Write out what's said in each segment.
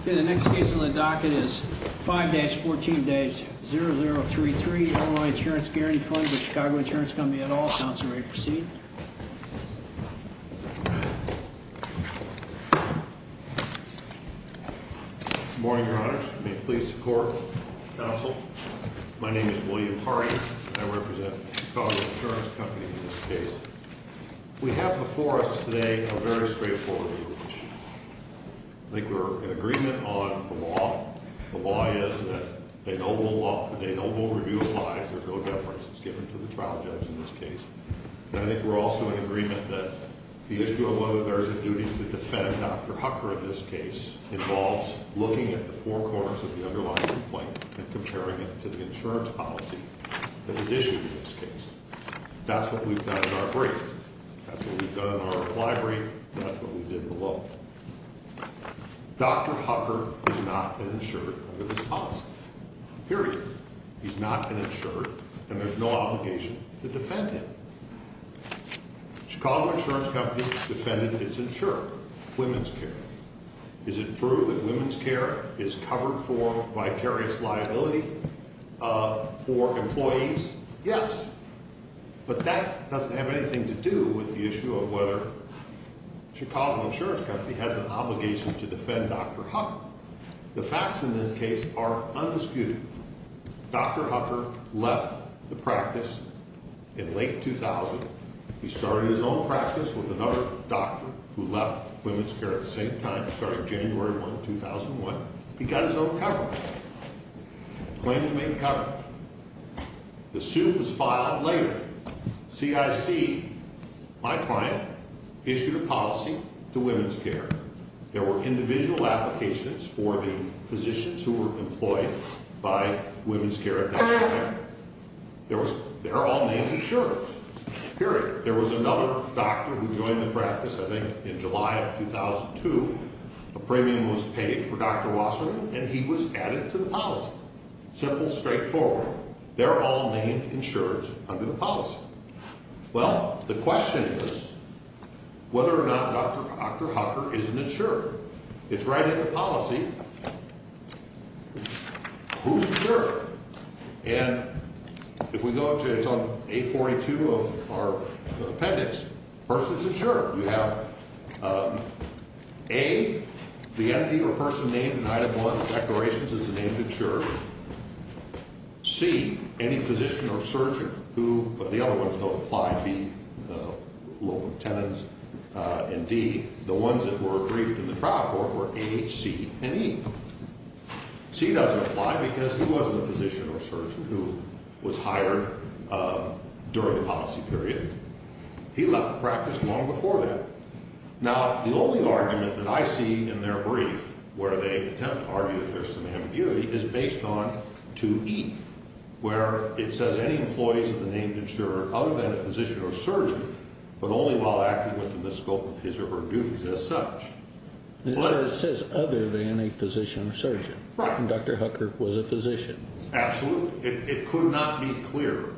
Okay, the next case on the docket is 5-14-0033, Illinois Insurance Guaranty Fund v. Chicago Insurance Co. et al. Counsel, are you ready to proceed? Good morning, Your Honor. May it please the Court, Counsel. My name is William Hardy. I represent the Chicago Insurance Company in this case. We have before us today a very straightforward legal issue. I think we're in agreement on the law. The law is that a noble law, a noble review applies. There's no deference that's given to the trial judge in this case. And I think we're also in agreement that the issue of whether there's a duty to defend Dr. Hucker in this case involves looking at the four corners of the underlying complaint and comparing it to the insurance policy that is issued in this case. That's what we've done in our brief. That's what we've done in our reply brief. That's what we did in the law. Dr. Hucker has not been insured under this policy, period. He's not been insured, and there's no obligation to defend him. Chicago Insurance Company's defendant is insured, women's care. Is it true that women's care is covered for vicarious liability for employees? Yes. But that doesn't have anything to do with the issue of whether Chicago Insurance Company has an obligation to defend Dr. Hucker. The facts in this case are undisputed. Dr. Hucker left the practice in late 2000. He started his own practice with another doctor who left women's care at the same time, starting January 1, 2001. He got his own coverage. Claims made coverage. The suit was filed later. CIC, my client, issued a policy to women's care. There were individual applications for the physicians who were employed by women's care at that time. They're all named insurers, period. There was another doctor who joined the practice, I think, in July of 2002. A premium was paid for Dr. Wasserman, and he was added to the policy. Simple, straightforward. They're all named insurers under the policy. Well, the question is whether or not Dr. Hucker is an insurer. It's right in the policy. Who's insured? And if we go up to it, it's on 842 of our appendix. First, it's insured. You have A, the entity or person named in Item 1 of the Declarations is a named insurer. C, any physician or surgeon who, but the other ones don't apply, B, local tenants. And D, the ones that were agreed to in the trial court were A, C, and E. C doesn't apply because he wasn't a physician or surgeon who was hired during the policy period. He left the practice long before that. Now, the only argument that I see in their brief where they attempt to argue that there's some ambiguity is based on 2E, where it says any employees of the named insurer other than a physician or surgeon, but only while acting within the scope of his or her duties as such. It says other than a physician or surgeon. Right. And Dr. Hucker was a physician. Absolutely. It could not be clearer.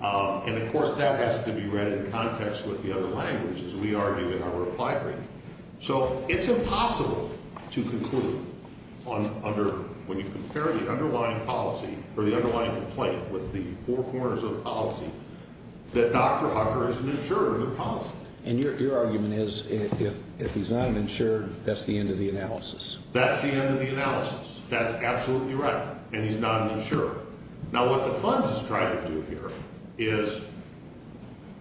And, of course, that has to be read in context with the other languages we argue in our reply brief. So it's impossible to conclude when you compare the underlying policy or the underlying complaint with the four corners of policy that Dr. Hucker is an insurer of the policy. And your argument is if he's not an insurer, that's the end of the analysis. That's the end of the analysis. And he's not an insurer. Now, what the funds is trying to do here is,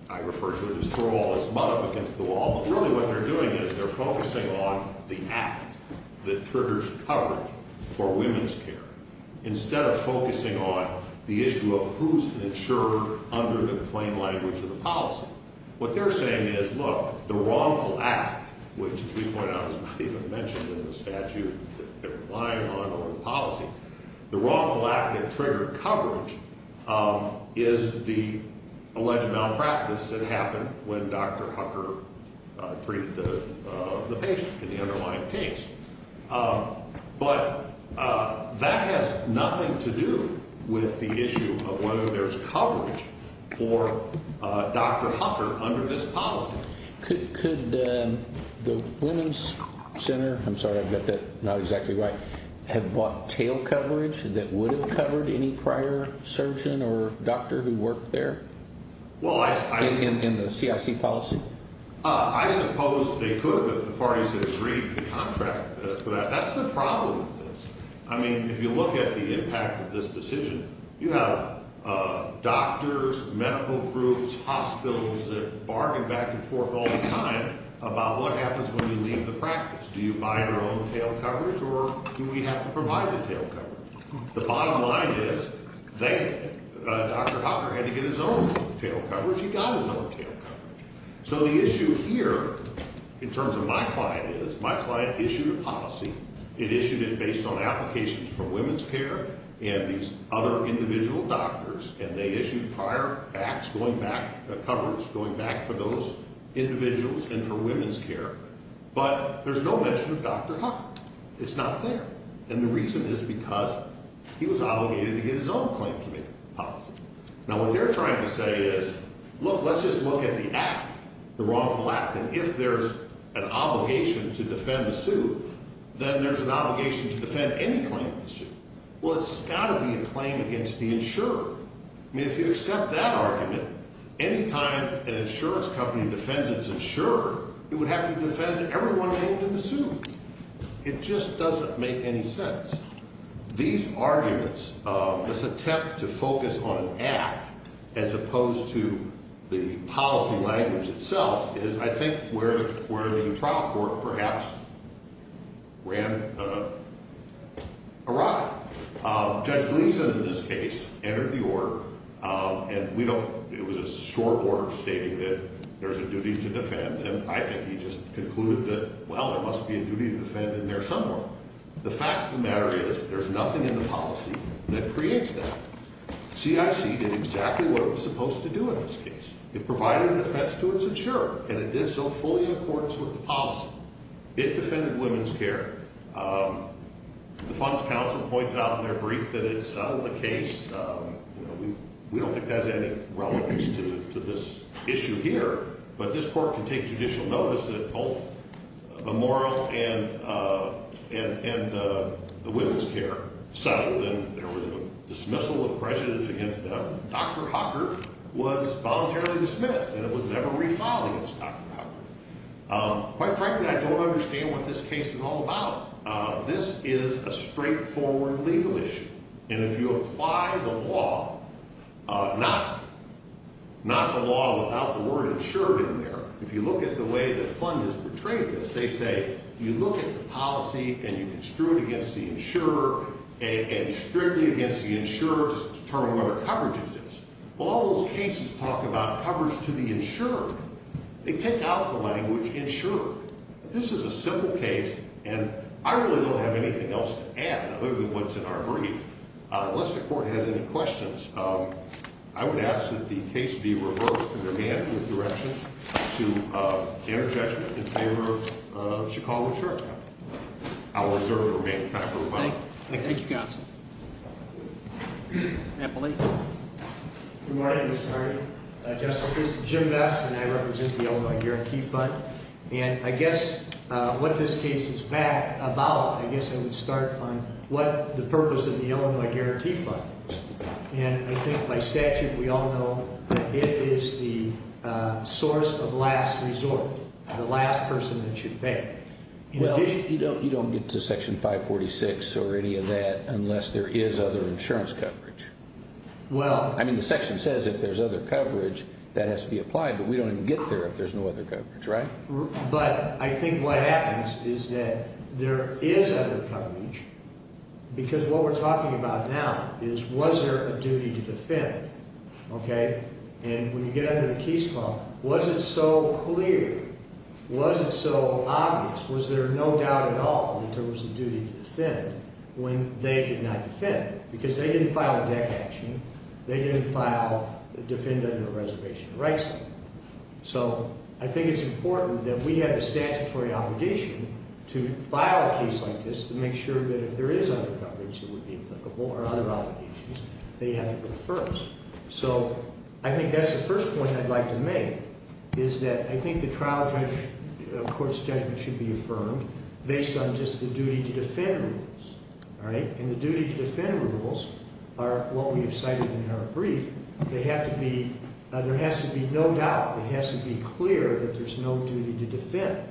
I refer to it as throw all this mud up against the wall, but really what they're doing is they're focusing on the act that triggers coverage for women's care instead of focusing on the issue of who's an insurer under the plain language of the policy. What they're saying is, look, the wrongful act, which as we point out is not even mentioned in the statute, the underlying policy, the wrongful act that triggered coverage is the alleged malpractice that happened when Dr. Hucker treated the patient in the underlying case. But that has nothing to do with the issue of whether there's coverage for Dr. Hucker under this policy. Could the Women's Center, I'm sorry, I've got that not exactly right, have bought tail coverage that would have covered any prior surgeon or doctor who worked there in the CIC policy? I suppose they could if the parties had agreed to contract for that. That's the problem with this. I mean, if you look at the impact of this decision, you have doctors, medical groups, hospitals that bargain back and forth all the time about what happens when you leave the practice. Do you buy your own tail coverage or do we have to provide the tail coverage? The bottom line is Dr. Hucker had to get his own tail coverage. He got his own tail coverage. So the issue here in terms of my client is my client issued a policy. It issued it based on applications for women's care and these other individual doctors, and they issued prior acts going back to coverage, going back for those individuals and for women's care. But there's no mention of Dr. Hucker. It's not there. And the reason is because he was obligated to get his own claim to make the policy. Now, what they're trying to say is, look, let's just look at the act, the wrongful act, and if there's an obligation to defend the suit, then there's an obligation to defend any claim to the suit. Well, it's got to be a claim against the insurer. I mean, if you accept that argument, any time an insurance company defends its insurer, it would have to defend everyone named in the suit. It just doesn't make any sense. These arguments, this attempt to focus on an act as opposed to the policy language itself, is, I think, where the trial court perhaps ran awry. Judge Gleason, in this case, entered the order, and it was a short order stating that there's a duty to defend, and I think he just concluded that, well, there must be a duty to defend in there somewhere. The fact of the matter is there's nothing in the policy that creates that. CIC did exactly what it was supposed to do in this case. It provided defense to its insurer, and it did so fully in accordance with the policy. It defended women's care. The funds council points out in their brief that it settled the case. We don't think that has any relevance to this issue here, but this court can take judicial notice that both the moral and the women's care settled, and there was a dismissal of prejudice against them. Dr. Hucker was voluntarily dismissed, and it was never refiled against Dr. Hucker. Quite frankly, I don't understand what this case is all about. This is a straightforward legal issue, and if you apply the law, not the law without the word insured in there. If you look at the way the fund has portrayed this, they say you look at the policy, and you construe it against the insurer and strictly against the insurer to determine whether coverage exists. Well, all those cases talk about coverage to the insurer. They take out the language insured. This is a simple case, and I really don't have anything else to add other than what's in our brief. Unless the court has any questions, I would ask that the case be reversed in their handling of directions to their judgment in favor of Chicago Insurer Capital. I will reserve the remaining time for rebuttal. Thank you, counsel. Eppley. Good morning, Mr. Hardy. Justice, this is Jim Vest, and I represent the Illinois Guarantee Fund. And I guess what this case is about, I guess I would start on what the purpose of the Illinois Guarantee Fund is. And I think by statute we all know that it is the source of last resort, the last person that should pay. Well, you don't get to Section 546 or any of that unless there is other insurance coverage. I mean, the section says if there's other coverage, that has to be applied, but we don't even get there if there's no other coverage, right? But I think what happens is that there is other coverage, because what we're talking about now is was there a duty to defend, okay? And when you get under the case law, was it so clear, was it so obvious, was there no doubt at all that there was a duty to defend when they did not defend? Because they didn't file a deck action. They didn't file defend under a reservation of rights. So I think it's important that we have a statutory obligation to file a case like this to make sure that if there is other coverage that would be applicable or other obligations, they have to go first. So I think that's the first point I'd like to make, is that I think the trial judge, a court's judgment should be affirmed based on just the duty to defend rules, all right? And the duty to defend rules are what we have cited in our brief. They have to be, there has to be no doubt. It has to be clear that there's no duty to defend.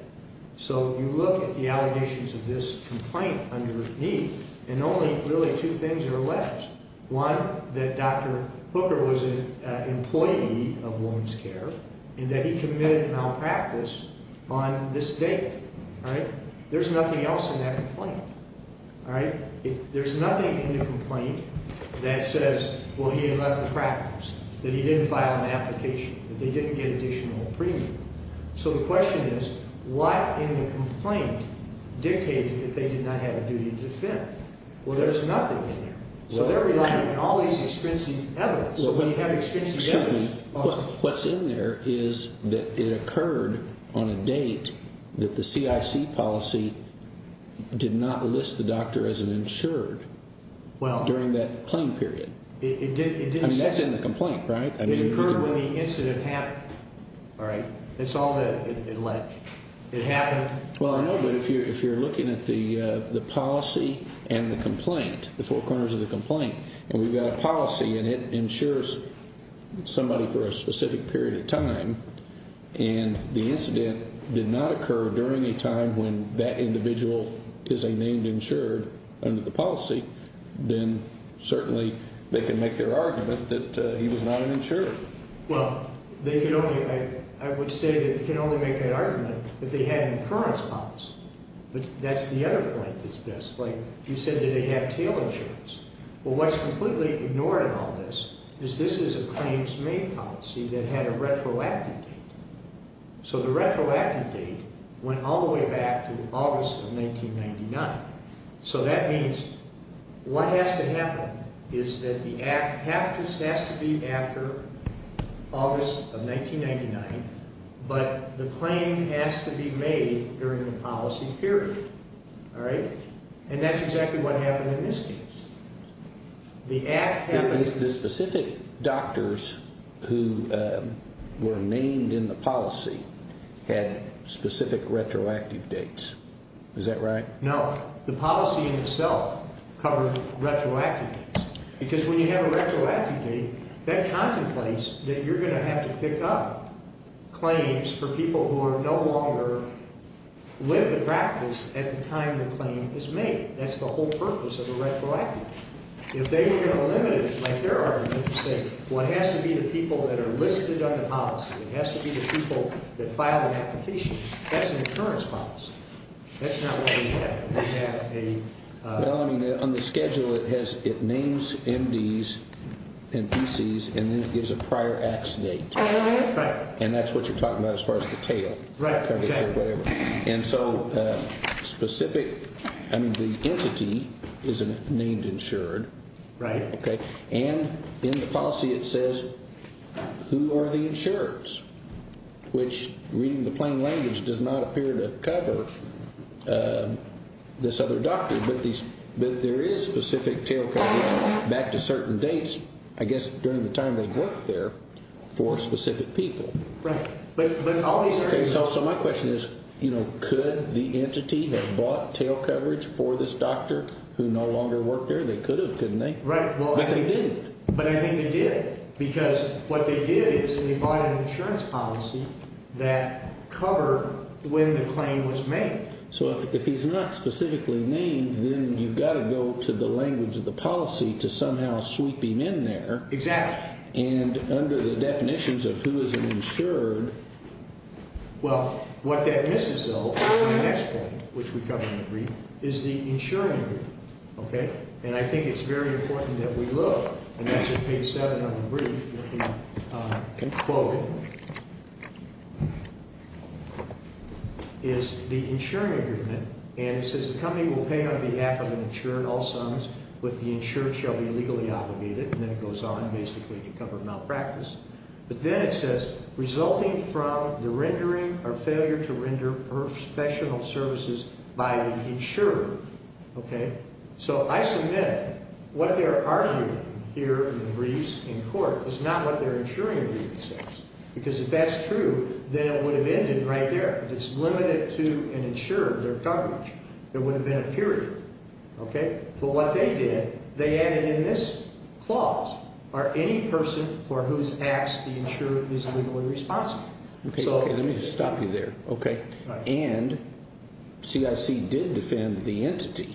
So you look at the allegations of this complaint underneath, and only really two things are alleged. One, that Dr. Hooker was an employee of Women's Care and that he committed malpractice on this date, all right? There's nothing else in that complaint, all right? There's nothing in the complaint that says, well, he had left the practice, that he didn't file an application, that they didn't get additional premium. So the question is, what in the complaint dictated that they did not have a duty to defend? Well, there's nothing in there. So they're relying on all these expensive evidence. So when you have expensive evidence. What's in there is that it occurred on a date that the CIC policy did not list the doctor as an insured during that claim period. I mean, that's in the complaint, right? It occurred when the incident happened, all right? That's all that it alleged. It happened. Well, I know, but if you're looking at the policy and the complaint, the four corners of the complaint, and we've got a policy, and it insures somebody for a specific period of time, and the incident did not occur during a time when that individual is a named insured under the policy, then certainly they can make their argument that he was not an insured. Well, they can only – I would say that you can only make that argument if they had an incurrence policy. But that's the other point that's missed. Like you said that they have tail insurance. Well, what's completely ignored in all this is this is a claims-made policy that had a retroactive date. So the retroactive date went all the way back to August of 1999. So that means what has to happen is that the act has to be after August of 1999, but the claim has to be made during the policy period, all right? And that's exactly what happened in this case. The act – The specific doctors who were named in the policy had specific retroactive dates. Is that right? No. The policy in itself covered retroactive dates because when you have a retroactive date, that contemplates that you're going to have to pick up claims for people who are no longer – That's the whole purpose of a retroactive date. If they were going to limit it like they're arguing, let's just say, well, it has to be the people that are listed on the policy. It has to be the people that filed an application. That's an incurrence policy. That's not what we have. We have a – Well, I mean, on the schedule it has – it names MDs and PCs, and then it gives a prior acts date. Right. And that's what you're talking about as far as the tail. Right, exactly. And so specific – I mean, the entity is named insured. Right. And in the policy it says who are the insurers, which reading the plain language does not appear to cover this other doctor, but there is specific tail coverage back to certain dates, I guess during the time they've worked there, for specific people. Right. But all these – Okay, so my question is, you know, could the entity have bought tail coverage for this doctor who no longer worked there? They could have, couldn't they? Right. But they didn't. But I think they did because what they did is they bought an insurance policy that covered when the claim was made. So if he's not specifically named, then you've got to go to the language of the policy to somehow sweep him in there. Exactly. And under the definitions of who is an insured – Well, what that misses, though, in the next point, which we cover in the brief, is the insuring agreement. And I think it's very important that we look, and that's what page 7 of the brief you can quote, is the insuring agreement. And it says the company will pay on behalf of an insured all sums with the insured shall be legally obligated. And then it goes on basically to cover malpractice. But then it says resulting from the rendering or failure to render professional services by the insurer. Okay. So I submit what they're arguing here in the briefs in court is not what their insuring agreement says. Because if that's true, then it would have ended right there. If it's limited to an insurer, their coverage, there would have been a period. Okay. But what they did, they added in this clause, are any person for whose acts the insured is legally responsible. Okay. Let me just stop you there. Okay. And CIC did defend the entity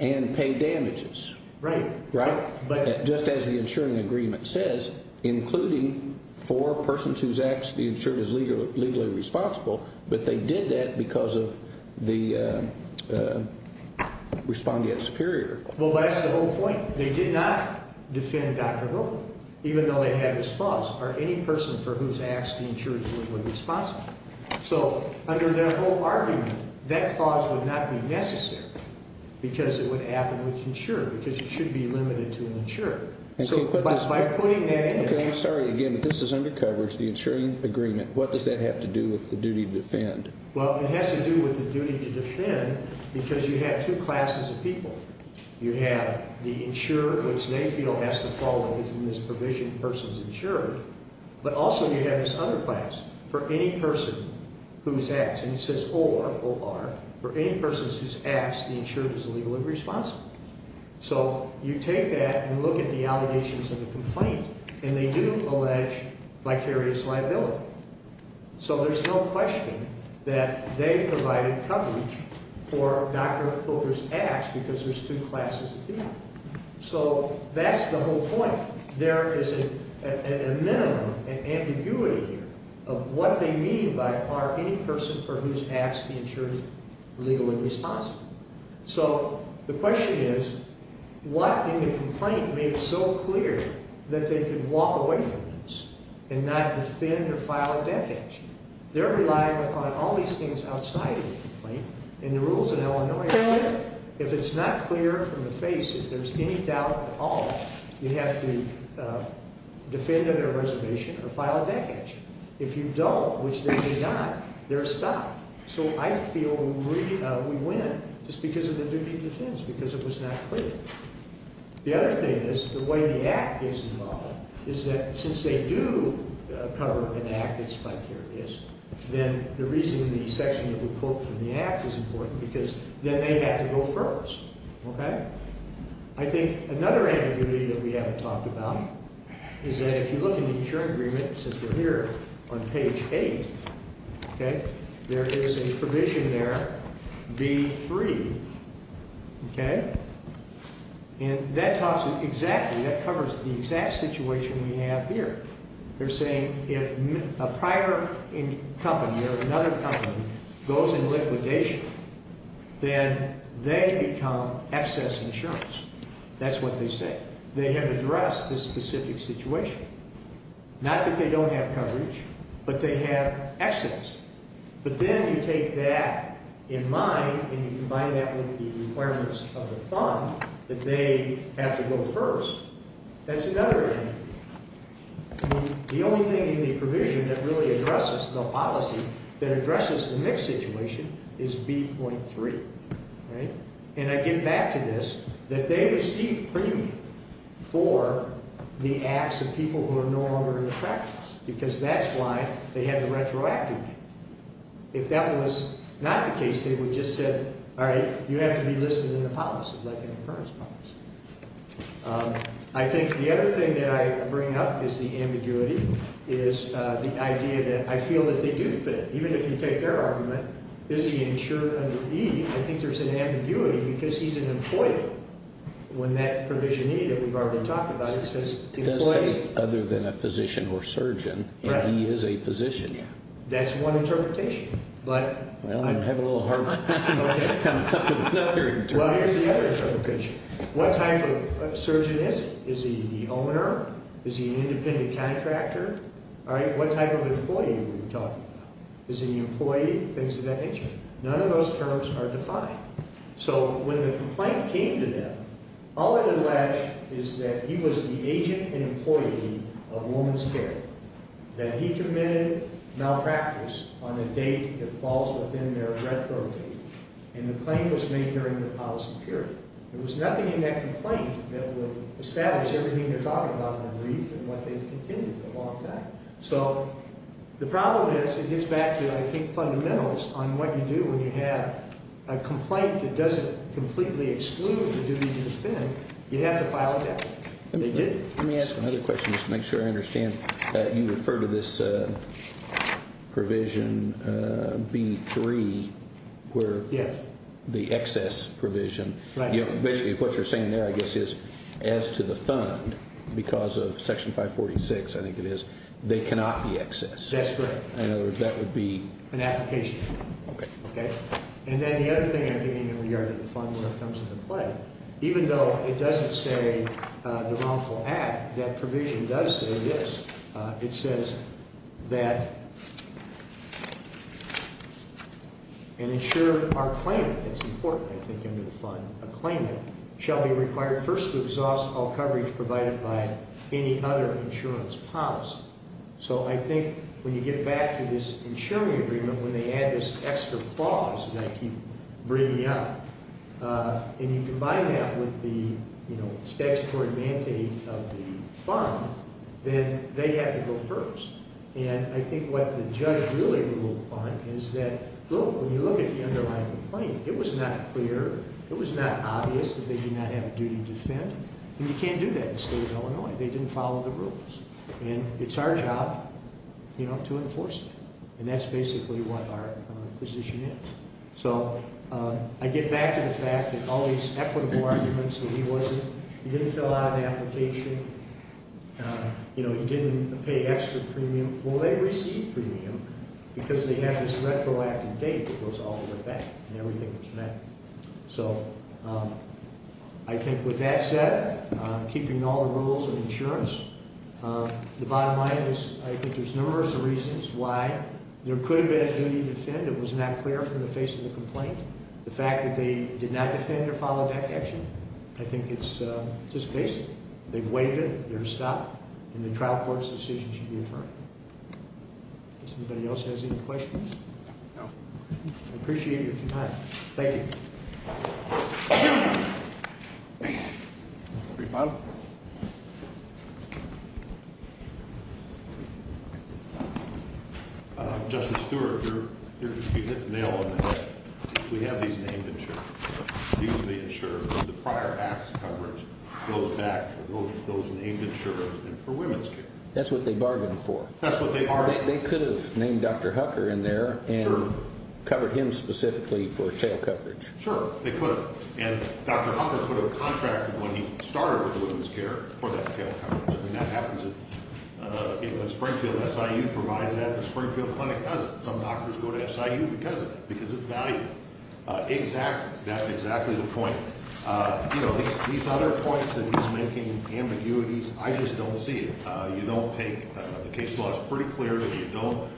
and pay damages. Right. Right? But just as the insuring agreement says, including for persons whose acts the insured is legally responsible, but they did that because of the respondent superior. Well, that's the whole point. They did not defend Dr. Roman, even though they had this clause, are any person for whose acts the insured is legally responsible. So under their whole argument, that clause would not be necessary because it would happen with the insurer, because it should be limited to an insurer. So by putting that in there. Okay. I'm sorry again, but this is under coverage, the insuring agreement. What does that have to do with the duty to defend? Well, it has to do with the duty to defend because you have two classes of people. You have the insurer, which they feel has to follow in this provision, persons insured, but also you have this other class, for any person whose acts, and it says or, O-R, for any persons whose acts the insured is legally responsible. So you take that and look at the allegations of the complaint, and they do allege vicarious liability. So there's no question that they provided coverage for Dr. Pilker's acts because there's two classes of people. So that's the whole point. There is a minimum, an ambiguity here, of what they mean by are any person for whose acts the insured is legally responsible. So the question is, what in the complaint made it so clear that they could walk away from this and not defend or file a death action? They're relying on all these things outside of the complaint, and the rules in Illinois say if it's not clear from the face, if there's any doubt at all, you have to defend under a reservation or file a death action. If you don't, which they did not, they're stopped. So I feel we win just because of the duty of defense, because it was not clear. The other thing is the way the act gets involved is that since they do cover an act that's vicarious, then the reason the section that we quote from the act is important because then they have to go first. Okay? I think another ambiguity that we haven't talked about is that if you look in the insuring agreement, since we're here on page 8, okay, there is a provision there, B3, okay, and that talks exactly, that covers the exact situation we have here. They're saying if a prior company or another company goes in liquidation, then they become excess insurance. That's what they say. They have addressed this specific situation. Not that they don't have coverage, but they have excess. But then you take that in mind and you combine that with the requirements of the fund that they have to go first. That's another ambiguity. The only thing in the provision that really addresses the policy that addresses the mixed situation is B.3. Right? And I get back to this, that they receive premium for the acts of people who are no longer in the practice because that's why they have the retroactive. If that was not the case, they would just say, all right, you have to be listed in the policy, like an insurance policy. I think the other thing that I bring up is the ambiguity, is the idea that I feel that they do fit. Even if you take their argument, is he insured under E? I think there's an ambiguity because he's an employee. When that provision E that we've already talked about, it says employee. It does say other than a physician or surgeon. Right. And he is a physician. That's one interpretation. Well, I'm having a little hard time coming up with another interpretation. Well, here's the other interpretation. What type of surgeon is he? Is he the owner? Is he an independent contractor? All right, what type of employee are we talking about? Is he an employee? Things of that nature. None of those terms are defined. So when the complaint came to them, all it alleged is that he was the agent and employee of a woman's care. That he committed malpractice on a date that falls within their retro date. And the claim was made during the policy period. There was nothing in that complaint that would establish everything they're talking about in the brief and what they've contended for a long time. So the problem is it gets back to, I think, fundamentals on what you do when you have a complaint that doesn't completely exclude the duty to defend. You have to file a death warrant. They did. Let me ask another question just to make sure I understand. You refer to this provision B3 where the excess provision. Basically what you're saying there, I guess, is as to the fund, because of Section 546, I think it is, they cannot be excess. That's correct. In other words, that would be? An application. Okay. And then the other thing I think in regard to the fund when it comes into play, even though it doesn't say the wrongful act, that provision does say this. It says that an insurer or claimant, it's important, I think, under the fund, a claimant shall be required first to exhaust all coverage provided by any other insurance policy. So I think when you get back to this insuring agreement, when they add this extra clause that I keep bringing up, and you combine that with the statutory mandate of the fund, then they have to go first. And I think what the judge really ruled on is that, look, when you look at the underlying complaint, it was not clear, it was not obvious that they did not have a duty to defend. And you can't do that in the state of Illinois. They didn't follow the rules. And it's our job to enforce it. And that's basically what our position is. So I get back to the fact that all these equitable arguments that he wasn't, he didn't fill out an application, you know, he didn't pay extra premium. Well, they received premium because they had this retroactive date that goes all the way back and everything was met. So I think with that said, keeping all the rules of insurance, the bottom line is I think there's numerous reasons why there could have been a duty to defend. It was not clear from the face of the complaint. The fact that they did not defend or follow that action, I think it's just basic. They've waived it. They're stopped. And the trial court's decision should be adjourned. Does anybody else have any questions? No. I appreciate your time. Thank you. Thank you. Rebuttal. Justice Stewart, you hit the nail on the head. We have these named insurers. These are the insurers. The prior acts coverage goes back to those named insurers and for women's care. That's what they bargained for. That's what they bargained for. They could have named Dr. Hucker in there and covered him specifically for tail coverage. Sure, they could have. And Dr. Hucker could have contracted when he started with women's care for that tail coverage. I mean, that happens when Springfield SIU provides that and Springfield Clinic doesn't. Some doctors go to SIU because of it, because it's valuable. Exactly. That's exactly the point. You know, these other points that he's making, ambiguities, I just don't see it. You don't take the case law. It's pretty clear that you don't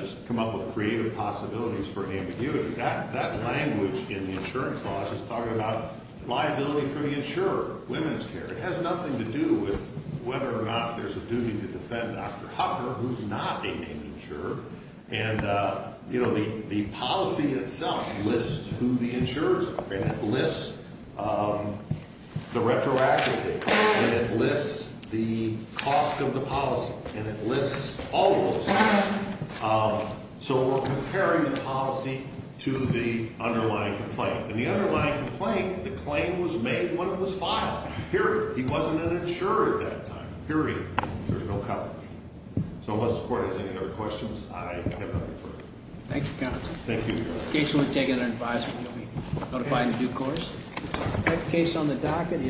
just come up with creative possibilities for ambiguity. That language in the insurance clause is talking about liability for the insurer, women's care. It has nothing to do with whether or not there's a duty to defend Dr. Hucker, who's not a named insurer. And, you know, the policy itself lists who the insurers are. And it lists the retroactive date. And it lists the cost of the policy. And it lists all of those things. So we're comparing the policy to the underlying complaint. In the underlying complaint, the claim was made when it was filed, period. He wasn't an insurer at that time, period. There's no coverage. So unless the court has any other questions, I have nothing further. Thank you, counsel. Thank you. In case you want to take it under advisement, you'll be notified in due course. That case on the docket is